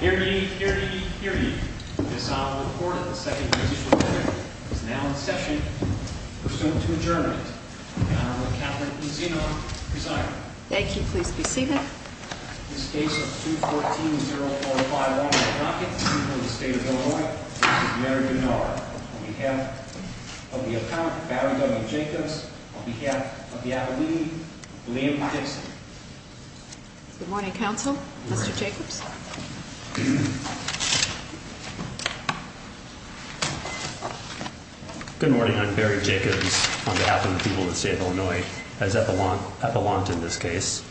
Here ye, here ye, here ye. This Honorable Court of the Second Judicial Court is now in session. Pursuant to adjournment, the Honorable Catherine E. Zinon, presiding. Thank you. Please be seated. This case of 214-045-1 by Rockett, the people of the state of Illinois, on behalf of Mary Gennar, on behalf of the Appellant, Barry W. Jacobs, on behalf of the Appellee, Liam Dixon. Good morning, Counsel. Mr. Jacobs. Good morning. I'm Barry Jacobs on behalf of the people of the state of Illinois, as Appellant in this case.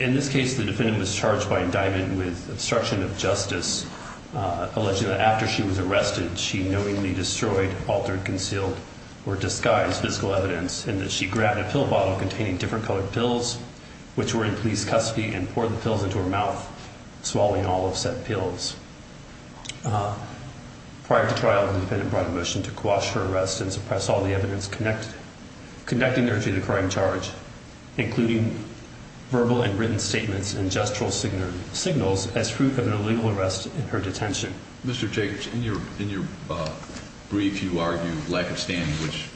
In this case, the defendant was charged by indictment with obstruction of justice, alleging that after she was arrested, she knowingly destroyed, altered, concealed, or disguised physical evidence, and that she grabbed a pill bottle containing different colored pills, which were in police custody, and poured the pills into her mouth, swallowing all of said pills. Prior to trial, the defendant brought a motion to quash her arrest and suppress all the evidence connecting her to the crime charge, including verbal and written statements and gestural signals, as proof of an illegal arrest in her detention. Mr. Jacobs, in your brief, you argue lack of standing, which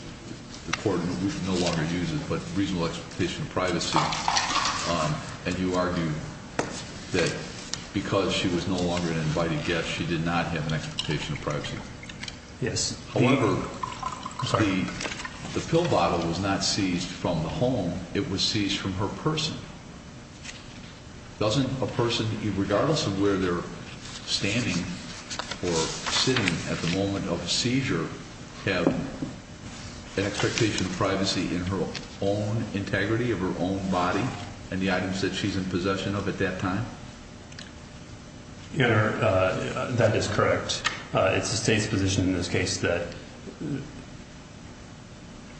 the court no longer uses, but reasonable expectation of privacy, and you argue that because she was no longer an invited guest, she did not have an expectation of privacy. Yes. However, the pill bottle was not seized from the home. It was seized from her person. Doesn't a person, regardless of where they're standing or sitting at the moment of a seizure, have an expectation of privacy in her own integrity, of her own body, and the items that she's in possession of at that time? Your Honor, that is correct. It's the State's position in this case that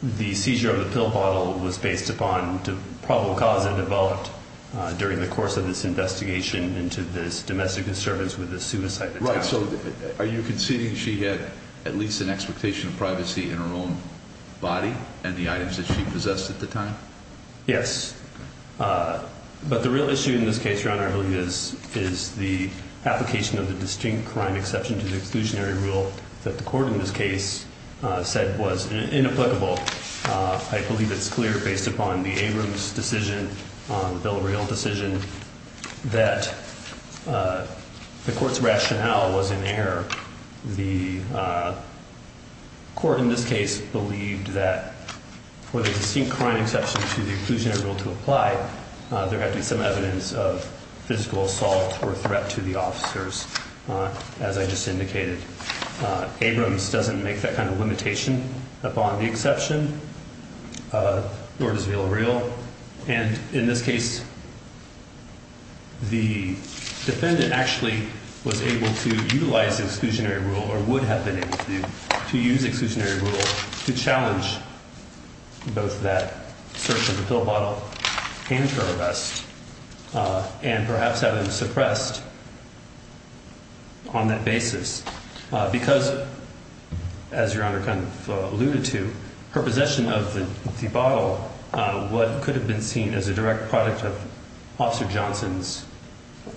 the seizure of the pill bottle was based upon the probable cause that developed during the course of this investigation into this domestic disturbance with a suicide attempt. Right. So are you conceding she had at least an expectation of privacy in her own body and the items that she possessed at the time? Yes. But the real issue in this case, Your Honor, I believe, is the application of the distinct crime exception to the exclusionary rule that the court in this case said was inapplicable. I believe it's clear, based upon the Abrams decision, the Bill of Regal decision, that the court's rationale was in error. The court in this case believed that for the distinct crime exception to the exclusionary rule to apply, there had to be some evidence of physical assault or threat to the officers, as I just indicated. Abrams doesn't make that kind of limitation upon the exception, nor does the Bill of Regal. And in this case, the defendant actually was able to utilize the exclusionary rule or would have been able to use the exclusionary rule to challenge both that search of the pill bottle and her arrest and perhaps have them suppressed on that basis because, as Your Honor kind of alluded to, her possession of the bottle could have been seen as a direct product of Officer Johnson's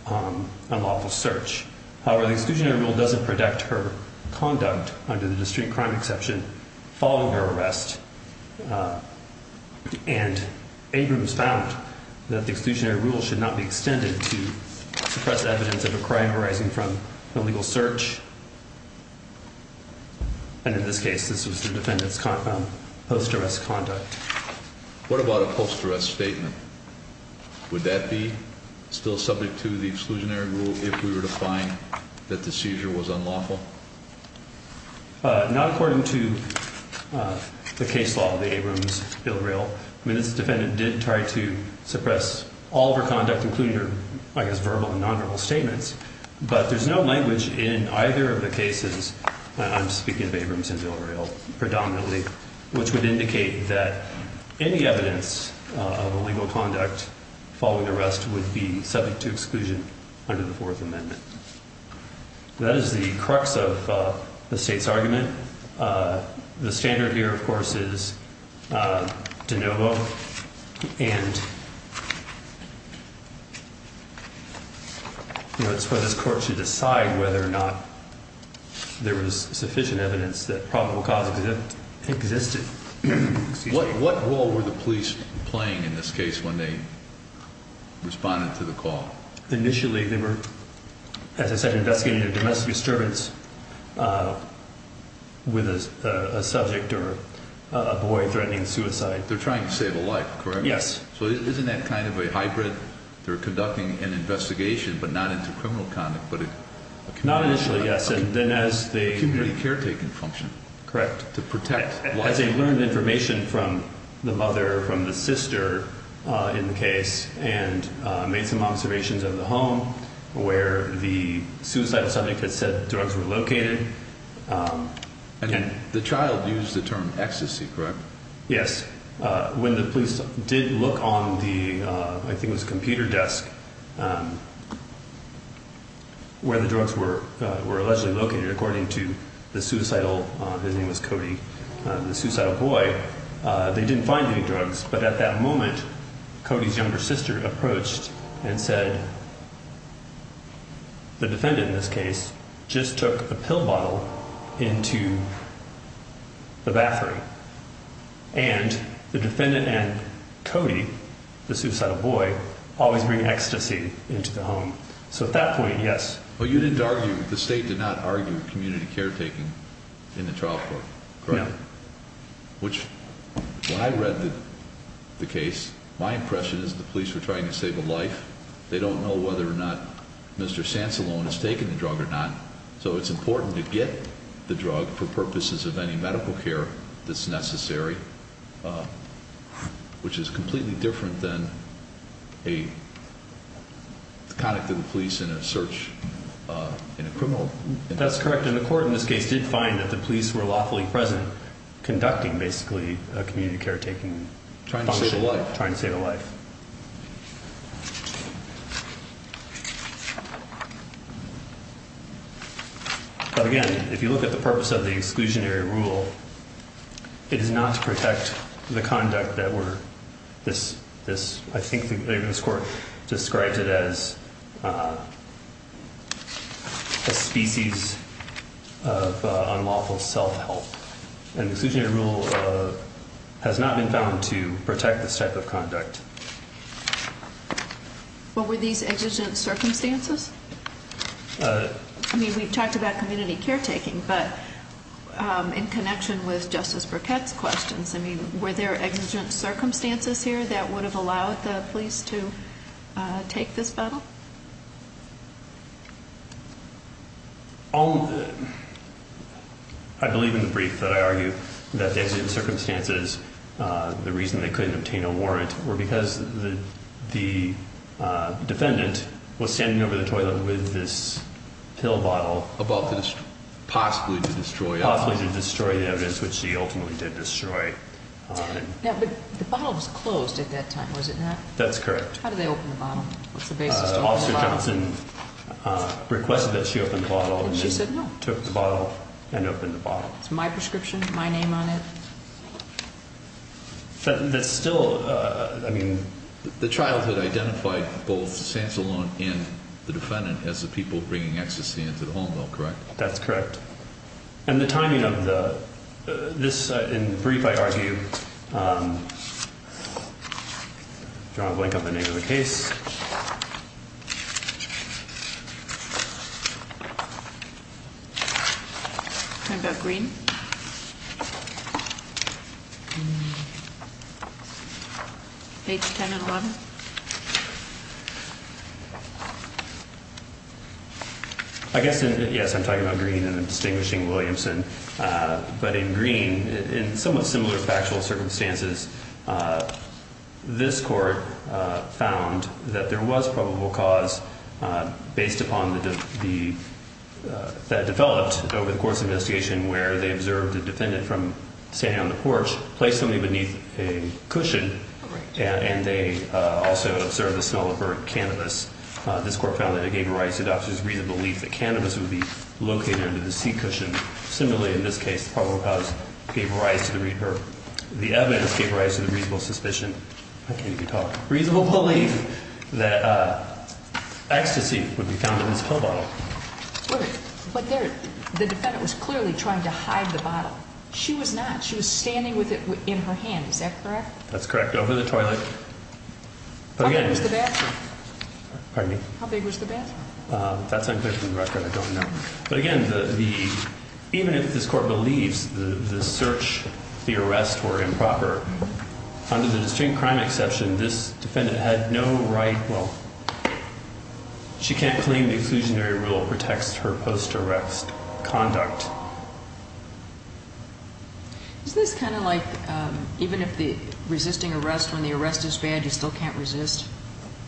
unlawful search. However, the exclusionary rule doesn't protect her conduct under the distinct crime exception following her arrest. And Abrams found that the exclusionary rule should not be extended to suppress evidence of a crime arising from an illegal search. And in this case, this was the defendant's post-arrest conduct. What about a post-arrest statement? Would that be still subject to the exclusionary rule if we were to find that the seizure was unlawful? Not according to the case law of the Abrams Bill of Regal. I mean, this defendant did try to suppress all of her conduct, including her, I guess, verbal and nonverbal statements. But there's no language in either of the cases, and I'm speaking of Abrams and Bill of Regal predominantly, which would indicate that any evidence of illegal conduct following arrest would be subject to exclusion under the Fourth Amendment. That is the crux of the state's argument. The standard here, of course, is de novo. And, you know, it's for this court to decide whether or not there was sufficient evidence that probable cause existed. What role were the police playing in this case when they responded to the call? Initially, they were, as I said, investigating a domestic disturbance with a subject or a boy threatening suicide. They're trying to save a life, correct? Yes. So isn't that kind of a hybrid? They're conducting an investigation, but not into criminal conduct, but a community caretaker. Not initially, yes. A community caretaker function. Correct. To protect. Well, as they learned information from the mother, from the sister in the case, and made some observations of the home where the suicidal subject had said drugs were located. And the child used the term ecstasy, correct? Yes. When the police did look on the, I think it was a computer desk, where the drugs were allegedly located, according to the suicidal, his name was Cody, the suicidal boy, they didn't find any drugs. But at that moment, Cody's younger sister approached and said the defendant in this case just took a pill bottle into the bathroom. And the defendant and Cody, the suicidal boy, always bring ecstasy into the home. So at that point, yes. But you didn't argue, the state did not argue community caretaking in the trial court, correct? No. Which, when I read the case, my impression is the police were trying to save a life. They don't know whether or not Mr. Sansalone has taken the drug or not. So it's important to get the drug for purposes of any medical care that's necessary, which is completely different than a conduct of the police in a search in a criminal. That's correct. And the court in this case did find that the police were lawfully present conducting, basically, a community caretaking function. Trying to save a life. But again, if you look at the purpose of the exclusionary rule, it is not to protect the conduct that we're, this, this, I think this court describes it as a species of unlawful self-help. And the exclusionary rule has not been found to protect this type of conduct. What were these exigent circumstances? I mean, we've talked about community caretaking, but in connection with Justice Burkett's questions, I mean, were there exigent circumstances here that would have allowed the police to take this battle? I believe in the brief that I argue that the exigent circumstances, the reason they couldn't obtain a warrant, were because the defendant was standing over the toilet with this pill bottle. About to destroy, possibly to destroy. Possibly to destroy the evidence, which he ultimately did destroy. Yeah, but the bottle was closed at that time, was it not? That's correct. How did they open the bottle? Officer Johnson requested that she open the bottle. And she said no. Took the bottle and opened the bottle. It's my prescription, my name on it. That's still, I mean. The trial that identified both Sansalone and the defendant as the people bringing ecstasy into the home though, correct? That's correct. And the timing of the, this, in the brief I argue, if you want to blink up the name of the case. Talking about Green? Page 10 and 11? I guess, yes, I'm talking about Green and distinguishing Williamson. But in Green, in somewhat similar factual circumstances, this court found that there was probable cause based upon the, that developed over the court's investigation where they observed the defendant from standing on the porch, placed them beneath a cushion. Correct. And they also observed the smell of her cannabis. This court found that it gave rise to the officer's reasonable belief that cannabis would be located under the seat cushion. Similarly, in this case, probable cause gave rise to the, or the evidence gave rise to the reasonable suspicion. I can't even talk. Reasonable belief that ecstasy would be found in this pill bottle. But there, the defendant was clearly trying to hide the bottle. She was not. She was standing with it in her hand, is that correct? That's correct. Over the toilet. How big was the bathroom? Pardon me? How big was the bathroom? That's unclear from the record. I don't know. But again, the, even if this court believes the search, the arrest were improper, under the distinct crime exception, this defendant had no right, well, she can't claim the exclusionary rule protects her post-arrest conduct. Is this kind of like, even if the resisting arrest, when the arrest is bad, you still can't resist?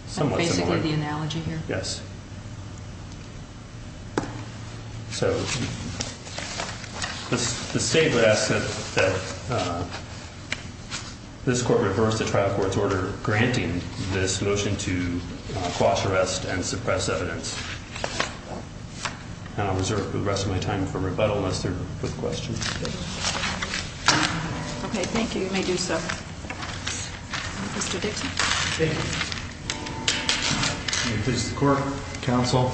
Somewhat similar. Basically the analogy here? Yes. So, the state would ask that this court reverse the trial court's order granting this motion to quash arrest and suppress evidence. And I'll reserve the rest of my time for rebuttal unless there are questions. Okay, thank you. You may do so. Mr. Dixon. Thank you. This is the court. Counsel.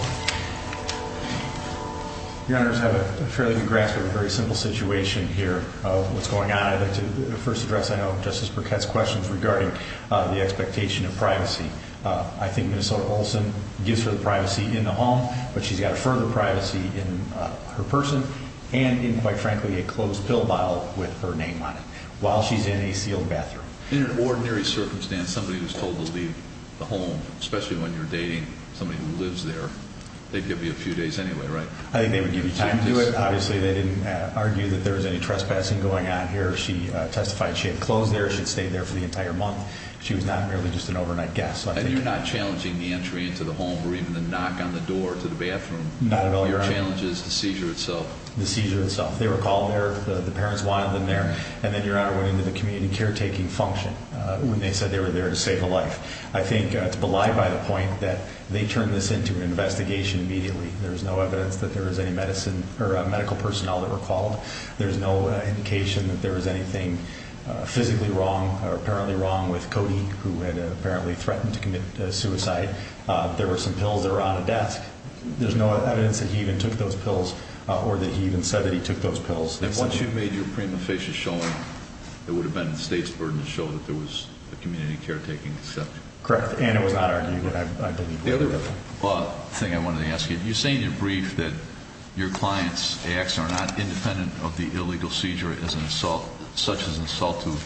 Your Honor, I just have a fairly good grasp of a very simple situation here of what's going on. I'd like to first address, I know, Justice Burkett's questions regarding the expectation of privacy. I think Minnesota Olson gives her the privacy in the home, but she's got further privacy in her person and in, quite frankly, a closed pill bottle with her name on it while she's in a sealed bathroom. In an ordinary circumstance, somebody who's told to leave the home, especially when you're dating somebody who lives there, they'd give you a few days anyway, right? I think they would give you time to do it. Obviously, they didn't argue that there was any trespassing going on here. She testified she had clothes there. She had stayed there for the entire month. She was not merely just an overnight guest. And you're not challenging the entry into the home or even the knock on the door to the bathroom? Not at all, Your Honor. Your challenge is the seizure itself? The seizure itself. They were called there. The parents wanted them there. And then, Your Honor, went into the community caretaking function when they said they were there to save a life. I think it's belied by the point that they turned this into an investigation immediately. There's no evidence that there was any medicine or medical personnel that were called. There's no indication that there was anything physically wrong or apparently wrong with Cody, who had apparently threatened to commit suicide. There were some pills that were on a desk. There's no evidence that he even took those pills or that he even said that he took those pills. And once you made your prima facie showing, it would have been the state's burden to show that there was a community caretaking exception. Correct. And it was not argued that I didn't do that. The thing I wanted to ask you, you say in your brief that your client's acts are not independent of the illegal seizure as an assault, such as an assault to a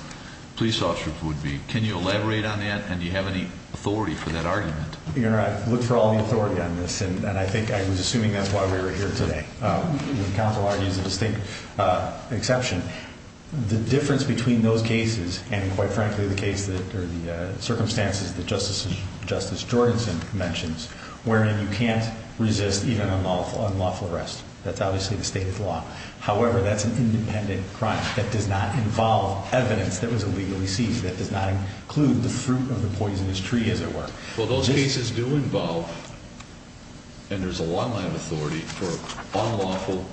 police officer would be. Can you elaborate on that, and do you have any authority for that argument? Your Honor, I've looked for all the authority on this, and I think I was assuming that's why we were here today. The counsel argues a distinct exception. The difference between those cases and, quite frankly, the circumstances that Justice Jorgensen mentions, wherein you can't resist even an unlawful arrest, that's obviously the state of the law. However, that's an independent crime. That does not involve evidence that was illegally seized. That does not include the fruit of the poisonous tree, as it were. Well, those cases do involve, and there's a long line of authority, for unlawful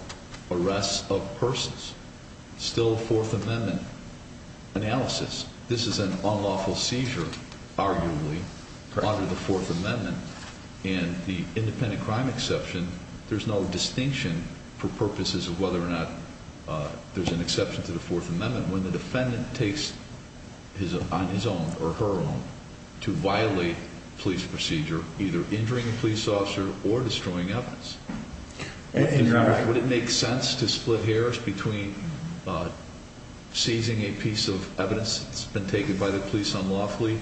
arrests of persons. Still a Fourth Amendment analysis. This is an unlawful seizure, arguably, under the Fourth Amendment. And the independent crime exception, there's no distinction for purposes of whether or not there's an exception to the Fourth Amendment. When the defendant takes on his own, or her own, to violate police procedure, either injuring a police officer or destroying evidence, would it make sense to split hairs between seizing a piece of evidence that's been taken by the police unlawfully,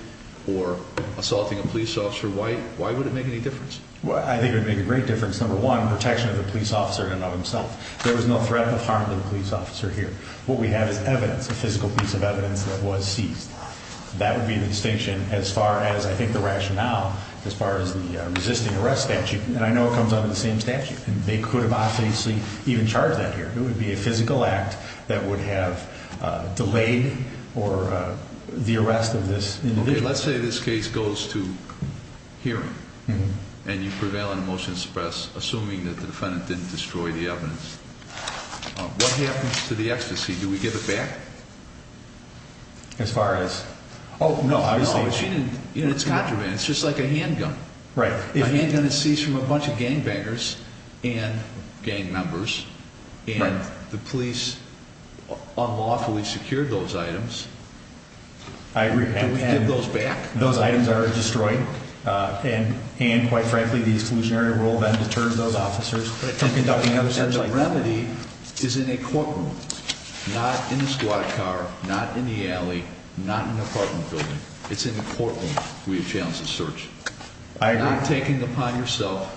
or assaulting a police officer white? Why would it make any difference? I think it would make a great difference. Number one, protection of the police officer and of himself. There is no threat of harm to the police officer here. What we have is evidence, a physical piece of evidence that was seized. That would be the distinction as far as, I think, the rationale, as far as the resisting arrest statute. And I know it comes under the same statute, and they could have obviously even charged that here. It would be a physical act that would have delayed the arrest of this individual. Let's say this case goes to hearing, and you prevail in a motion to suppress, assuming that the defendant didn't destroy the evidence. What happens to the ecstasy? Do we give it back? As far as? Oh, no. It's contraband. It's just like a handgun. Right. If a handgun is seized from a bunch of gangbangers and gang members, and the police unlawfully secured those items, do we give those back? Those items are destroyed, and, quite frankly, the exclusionary rule then determines those officers. And the remedy is in a courtroom, not in a squad car, not in the alley, not in an apartment building. It's in the courtroom we have challenged the search. I agree. Not taking it upon yourself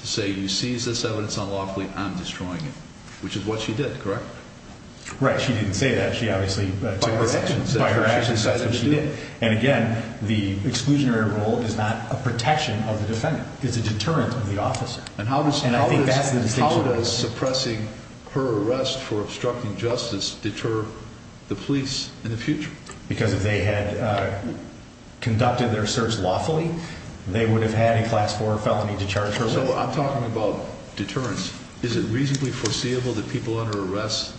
to say, you seized this evidence unlawfully, I'm destroying it, which is what she did, correct? Right. She didn't say that. She obviously, by her actions, said that's what she did. And, again, the exclusionary rule is not a protection of the defendant. It's a deterrent of the officer. And how does suppressing her arrest for obstructing justice deter the police in the future? Because if they had conducted their search lawfully, they would have had a Class 4 felony to charge her with. So I'm talking about deterrence. Is it reasonably foreseeable that people under arrest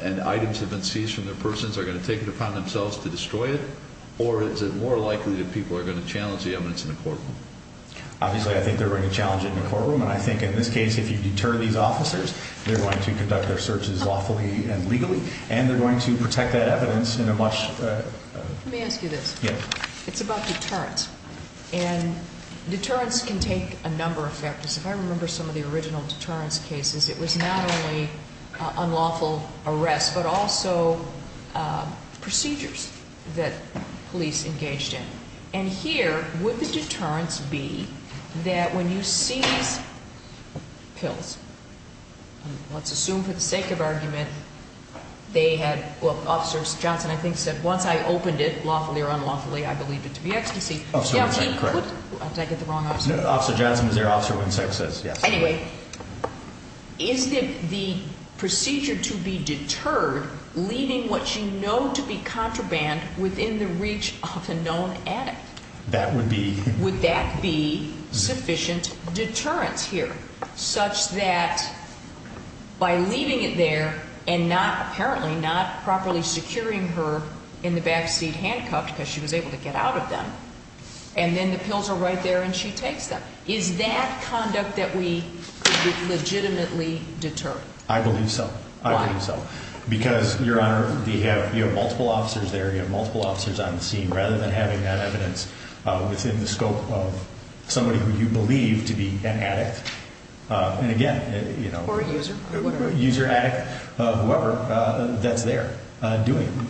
and items that have been seized from their persons are going to take it upon themselves to destroy it, or is it more likely that people are going to challenge the evidence in the courtroom? Obviously, I think they're going to challenge it in the courtroom. And I think in this case, if you deter these officers, they're going to conduct their searches lawfully and legally, and they're going to protect that evidence in a much- Let me ask you this. Yeah. It's about deterrence. And deterrence can take a number of factors. If I remember some of the original deterrence cases, it was not only unlawful arrests, but also procedures that police engaged in. And here, would the deterrence be that when you seize pills, let's assume for the sake of argument, they had- Well, Officer Johnson, I think, said, once I opened it, lawfully or unlawfully, I believed it to be ecstasy. Officer Johnson, correct. Did I get the wrong officer? Officer Johnson is there. Officer Winsak says yes. Anyway, is the procedure to be deterred leaving what you know to be contraband within the reach of a known addict? That would be- Would that be sufficient deterrence here, such that by leaving it there and not, apparently, not properly securing her in the backseat handcuffed, because she was able to get out of them, and then the pills are right there and she takes them? Is that conduct that we could legitimately deter? I believe so. Why? Because, Your Honor, you have multiple officers there. You have multiple officers on the scene. Rather than having that evidence within the scope of somebody who you believe to be an addict, and again- Or a user, whatever. User, addict, whoever, that's there doing it.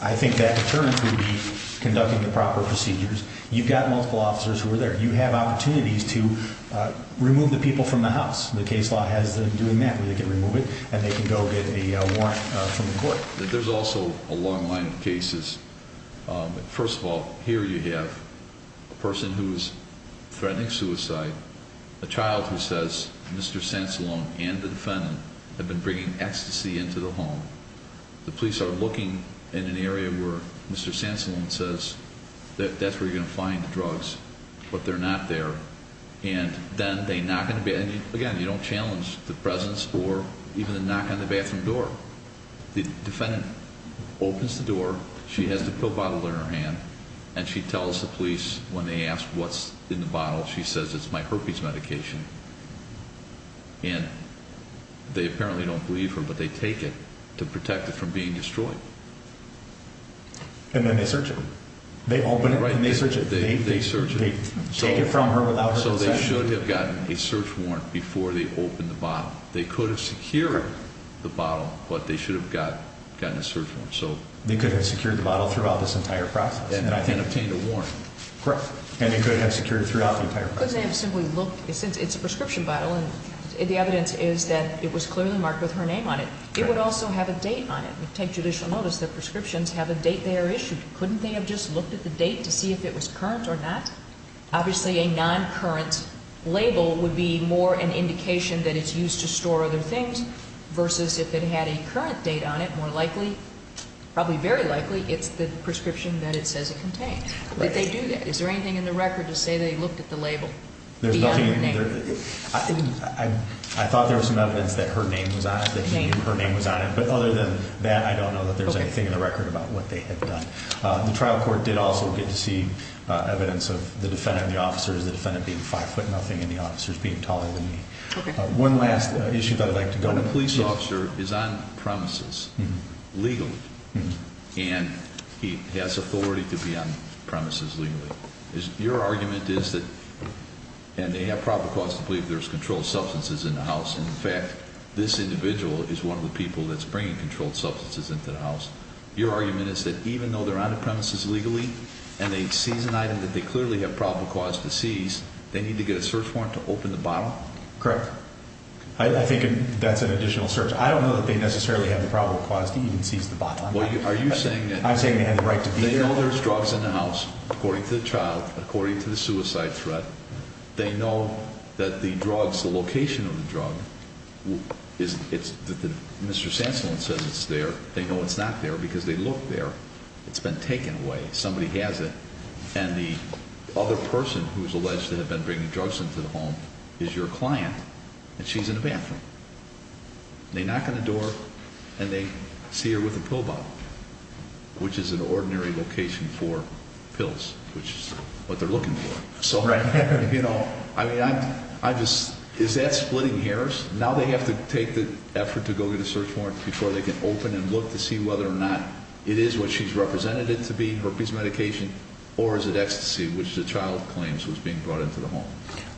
I think that deterrence would be conducting the proper procedures. You've got multiple officers who are there. You have opportunities to remove the people from the house. The case law has them doing that, where they can remove it and they can go get a warrant from the court. There's also a long line of cases. First of all, here you have a person who is threatening suicide, a child who says, Mr. Sansalone and the defendant have been bringing ecstasy into the home. The police are looking in an area where Mr. Sansalone says, that's where you're going to find the drugs, but they're not there. And then they knock on the bathroom. Again, you don't challenge the presence or even the knock on the bathroom door. The defendant opens the door. She has the pill bottle in her hand, and she tells the police when they ask what's in the bottle, she says it's my herpes medication. And they apparently don't believe her, but they take it to protect it from being destroyed. And then they search it. They open it and they search it. They search it. They take it from her without her consent. So they should have gotten a search warrant before they opened the bottle. They could have secured the bottle, but they should have gotten a search warrant. They could have secured the bottle throughout this entire process. And obtained a warrant. Correct. And they could have secured it throughout the entire process. Couldn't they have simply looked? It's a prescription bottle, and the evidence is that it was clearly marked with her name on it. It would also have a date on it. Take judicial notice that prescriptions have a date they are issued. Couldn't they have just looked at the date to see if it was current or not? Obviously, a non-current label would be more an indication that it's used to store other things versus if it had a current date on it, more likely, probably very likely, it's the prescription that it says it contains. Did they do that? Is there anything in the record to say they looked at the label beyond her name? I thought there was some evidence that her name was on it, that he knew her name was on it. But other than that, I don't know that there's anything in the record about what they had done. The trial court did also get to see evidence of the defendant and the officers, the defendant being 5'0 and the officers being taller than me. One last issue that I'd like to go over. The police officer is on premises legally, and he has authority to be on premises legally. Your argument is that, and they have probable cause to believe there's controlled substances in the house. In fact, this individual is one of the people that's bringing controlled substances into the house. Your argument is that even though they're on the premises legally, and they seize an item that they clearly have probable cause to seize, they need to get a search warrant to open the bottle? Correct. I think that's an additional search. I don't know that they necessarily have the probable cause to even seize the bottle. I'm saying they have the right to be there. They know there's drugs in the house, according to the trial, according to the suicide threat. They know that the drugs, the location of the drug, Mr. Sassolon says it's there. They know it's not there because they looked there. It's been taken away. Somebody has it. And the other person who's alleged to have been bringing drugs into the home is your client, and she's in the bathroom. They knock on the door, and they see her with a pill bottle, which is an ordinary location for pills, which is what they're looking for. Is that splitting hairs? Now they have to take the effort to go get a search warrant before they can open and look to see whether or not it is what she's represented it to be, her piece of medication, or is it ecstasy, which the child claims was being brought into the home?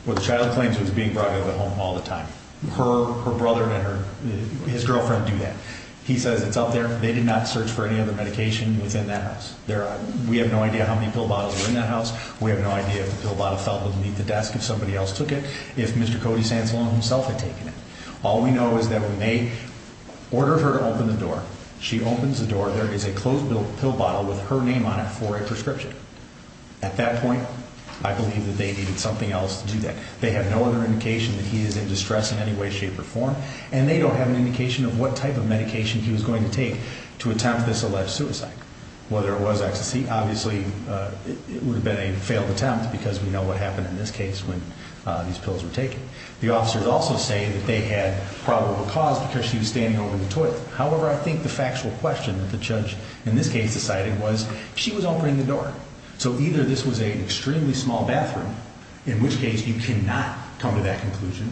Well, the child claims it was being brought into the home all the time. Her brother and his girlfriend do that. He says it's up there. They did not search for any other medication within that house. We have no idea how many pill bottles were in that house. We have no idea if the pill bottle fell beneath the desk, if somebody else took it, if Mr. Cody Sassolon himself had taken it. All we know is that when they ordered her to open the door, she opens the door. There is a closed pill bottle with her name on it for a prescription. At that point, I believe that they needed something else to do that. They have no other indication that he is in distress in any way, shape, or form, and they don't have an indication of what type of medication he was going to take to attempt this alleged suicide. Whether it was ecstasy, obviously it would have been a failed attempt because we know what happened in this case when these pills were taken. The officers also say that they had probable cause because she was standing over the toilet. However, I think the factual question that the judge in this case decided was she was opening the door. So either this was an extremely small bathroom, in which case you cannot come to that conclusion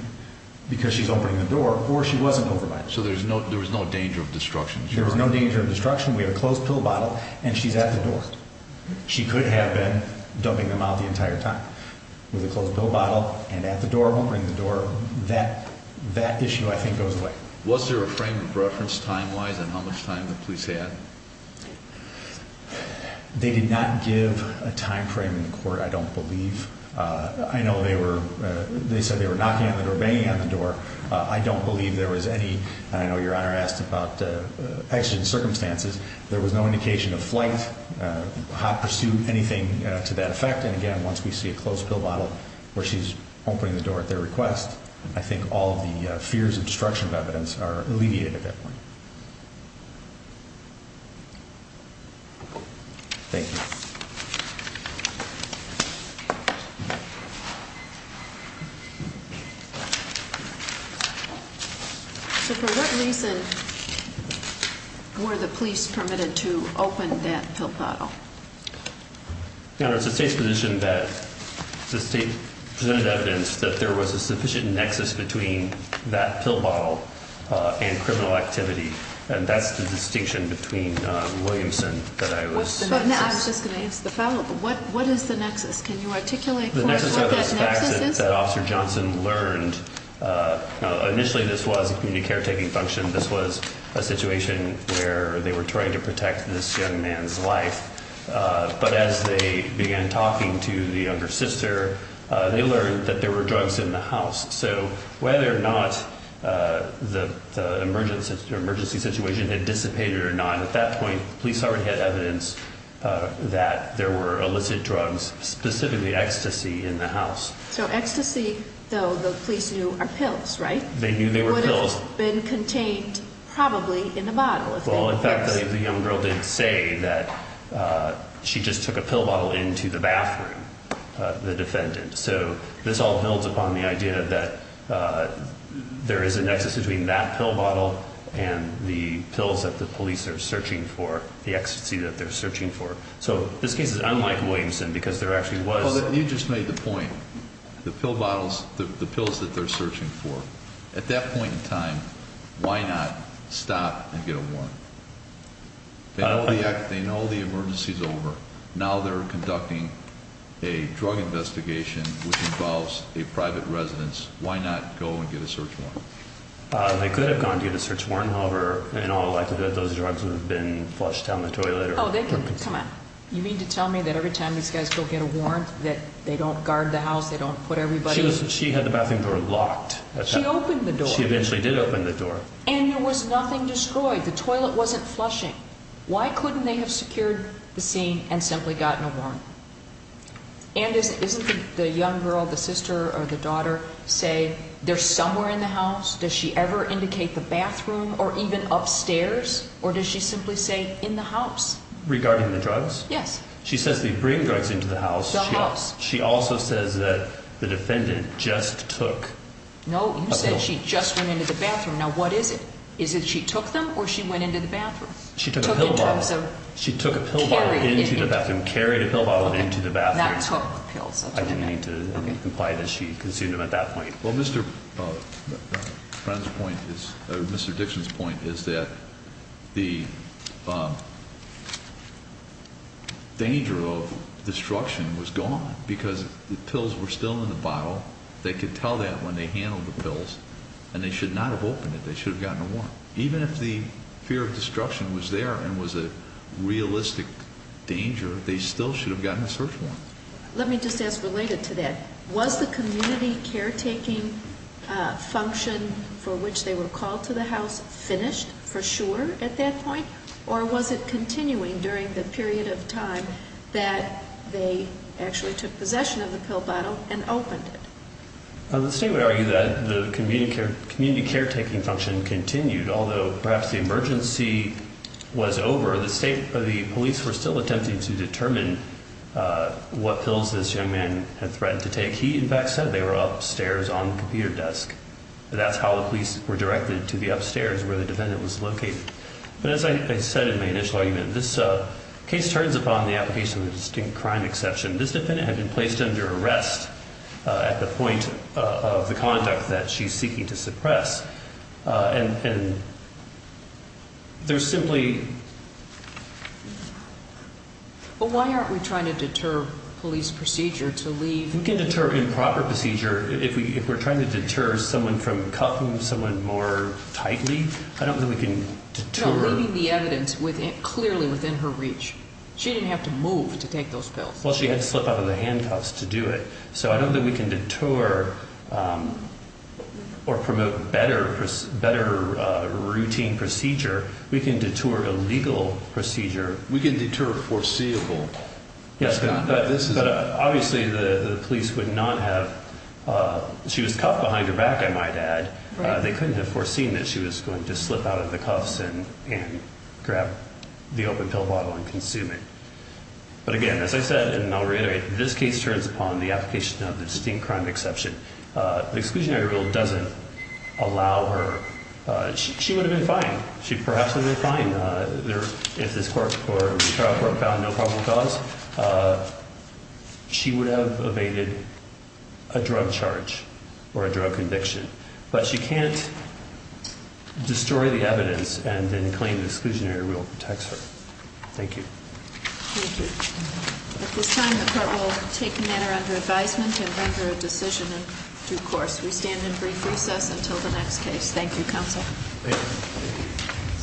because she's opening the door, or she wasn't opening the door. So there was no danger of destruction? There was no danger of destruction. We have a closed pill bottle, and she's at the door. She could have been dumping them out the entire time. With a closed pill bottle and at the door, opening the door, that issue I think goes away. Was there a frame of reference time-wise on how much time the police had? They did not give a time frame in court, I don't believe. I know they said they were knocking on the door, banging on the door. I don't believe there was any. I know Your Honor asked about exigent circumstances. There was no indication of flight, hot pursuit, anything to that effect. And again, once we see a closed pill bottle where she's opening the door at their request, I think all of the fears of destruction of evidence are alleviated at that point. Thank you. So for what reason were the police permitted to open that pill bottle? Your Honor, it's the State's position that the State presented evidence that there was a sufficient nexus between that pill bottle and criminal activity, and that's the distinction between Williamson that I was— I was just going to ask the follow-up. What is the nexus? Can you articulate for us what that nexus is? The nexus are those facts that Officer Johnson learned. Initially this was a community caretaking function. This was a situation where they were trying to protect this young man's life. But as they began talking to the younger sister, they learned that there were drugs in the house. So whether or not the emergency situation had dissipated or not, at that point the police already had evidence that there were illicit drugs, specifically ecstasy, in the house. So ecstasy, though, the police knew are pills, right? They knew they were pills. It would have been contained probably in the bottle. Well, in fact, the young girl did say that she just took a pill bottle into the bathroom, the defendant. So this all builds upon the idea that there is a nexus between that pill bottle and the pills that the police are searching for, the ecstasy that they're searching for. So this case is unlike Williamson because there actually was— You just made the point, the pill bottles, the pills that they're searching for. At that point in time, why not stop and get a warrant? They know the emergency is over. Now they're conducting a drug investigation which involves a private residence. Why not go and get a search warrant? They could have gone to get a search warrant. However, in all likelihood, those drugs would have been flushed down the toilet or— Come on. You mean to tell me that every time these guys go get a warrant that they don't guard the house, they don't put everybody— She had the bathroom door locked. She opened the door. She eventually did open the door. And there was nothing destroyed. The toilet wasn't flushing. Why couldn't they have secured the scene and simply gotten a warrant? And isn't the young girl, the sister or the daughter, say they're somewhere in the house? Does she ever indicate the bathroom or even upstairs? Or does she simply say in the house? Regarding the drugs? She says they bring drugs into the house. The house. She also says that the defendant just took a pill. No, you said she just went into the bathroom. Now what is it? Is it she took them or she went into the bathroom? She took a pill bottle. She took in terms of carrying it into the bathroom. She took a pill bottle into the bathroom, carried a pill bottle into the bathroom. That took pills. I didn't mean to imply that she consumed them at that point. Well, Mr. Dixon's point is that the danger of destruction was gone because the pills were still in the bottle. They could tell that when they handled the pills, and they should not have opened it. They should have gotten a warrant. Even if the fear of destruction was there and was a realistic danger, they still should have gotten a search warrant. Let me just ask related to that. Was the community caretaking function for which they were called to the house finished for sure at that point? Or was it continuing during the period of time that they actually took possession of the pill bottle and opened it? The state would argue that the community caretaking function continued, although perhaps the emergency was over. The police were still attempting to determine what pills this young man had threatened to take. He, in fact, said they were upstairs on the computer desk. That's how the police were directed to the upstairs where the defendant was located. But as I said in my initial argument, this case turns upon the application of a distinct crime exception. This defendant had been placed under arrest at the point of the conduct that she's seeking to suppress. And there's simply... But why aren't we trying to deter police procedure to leave... We can deter improper procedure if we're trying to deter someone from cuffing someone more tightly. I don't think we can deter... No, leaving the evidence clearly within her reach. She didn't have to move to take those pills. Well, she had to slip out of the handcuffs to do it. So I don't think we can deter or promote better routine procedure. We can deter illegal procedure. We can deter foreseeable. Yes, but obviously the police would not have... She was cuffed behind her back, I might add. They couldn't have foreseen that she was going to slip out of the cuffs and grab the open pill bottle and consume it. But again, as I said, and I'll reiterate, this case turns upon the application of the distinct crime exception. The exclusionary rule doesn't allow her... She would have been fine. She perhaps would have been fine if this court or the trial court found no probable cause. She would have evaded a drug charge or a drug conviction. But she can't destroy the evidence and then claim the exclusionary rule protects her. Thank you. Thank you. At this time, the court will take a matter under advisement and render a decision in due course. We stand in brief recess until the next case. Thank you, counsel. Thank you.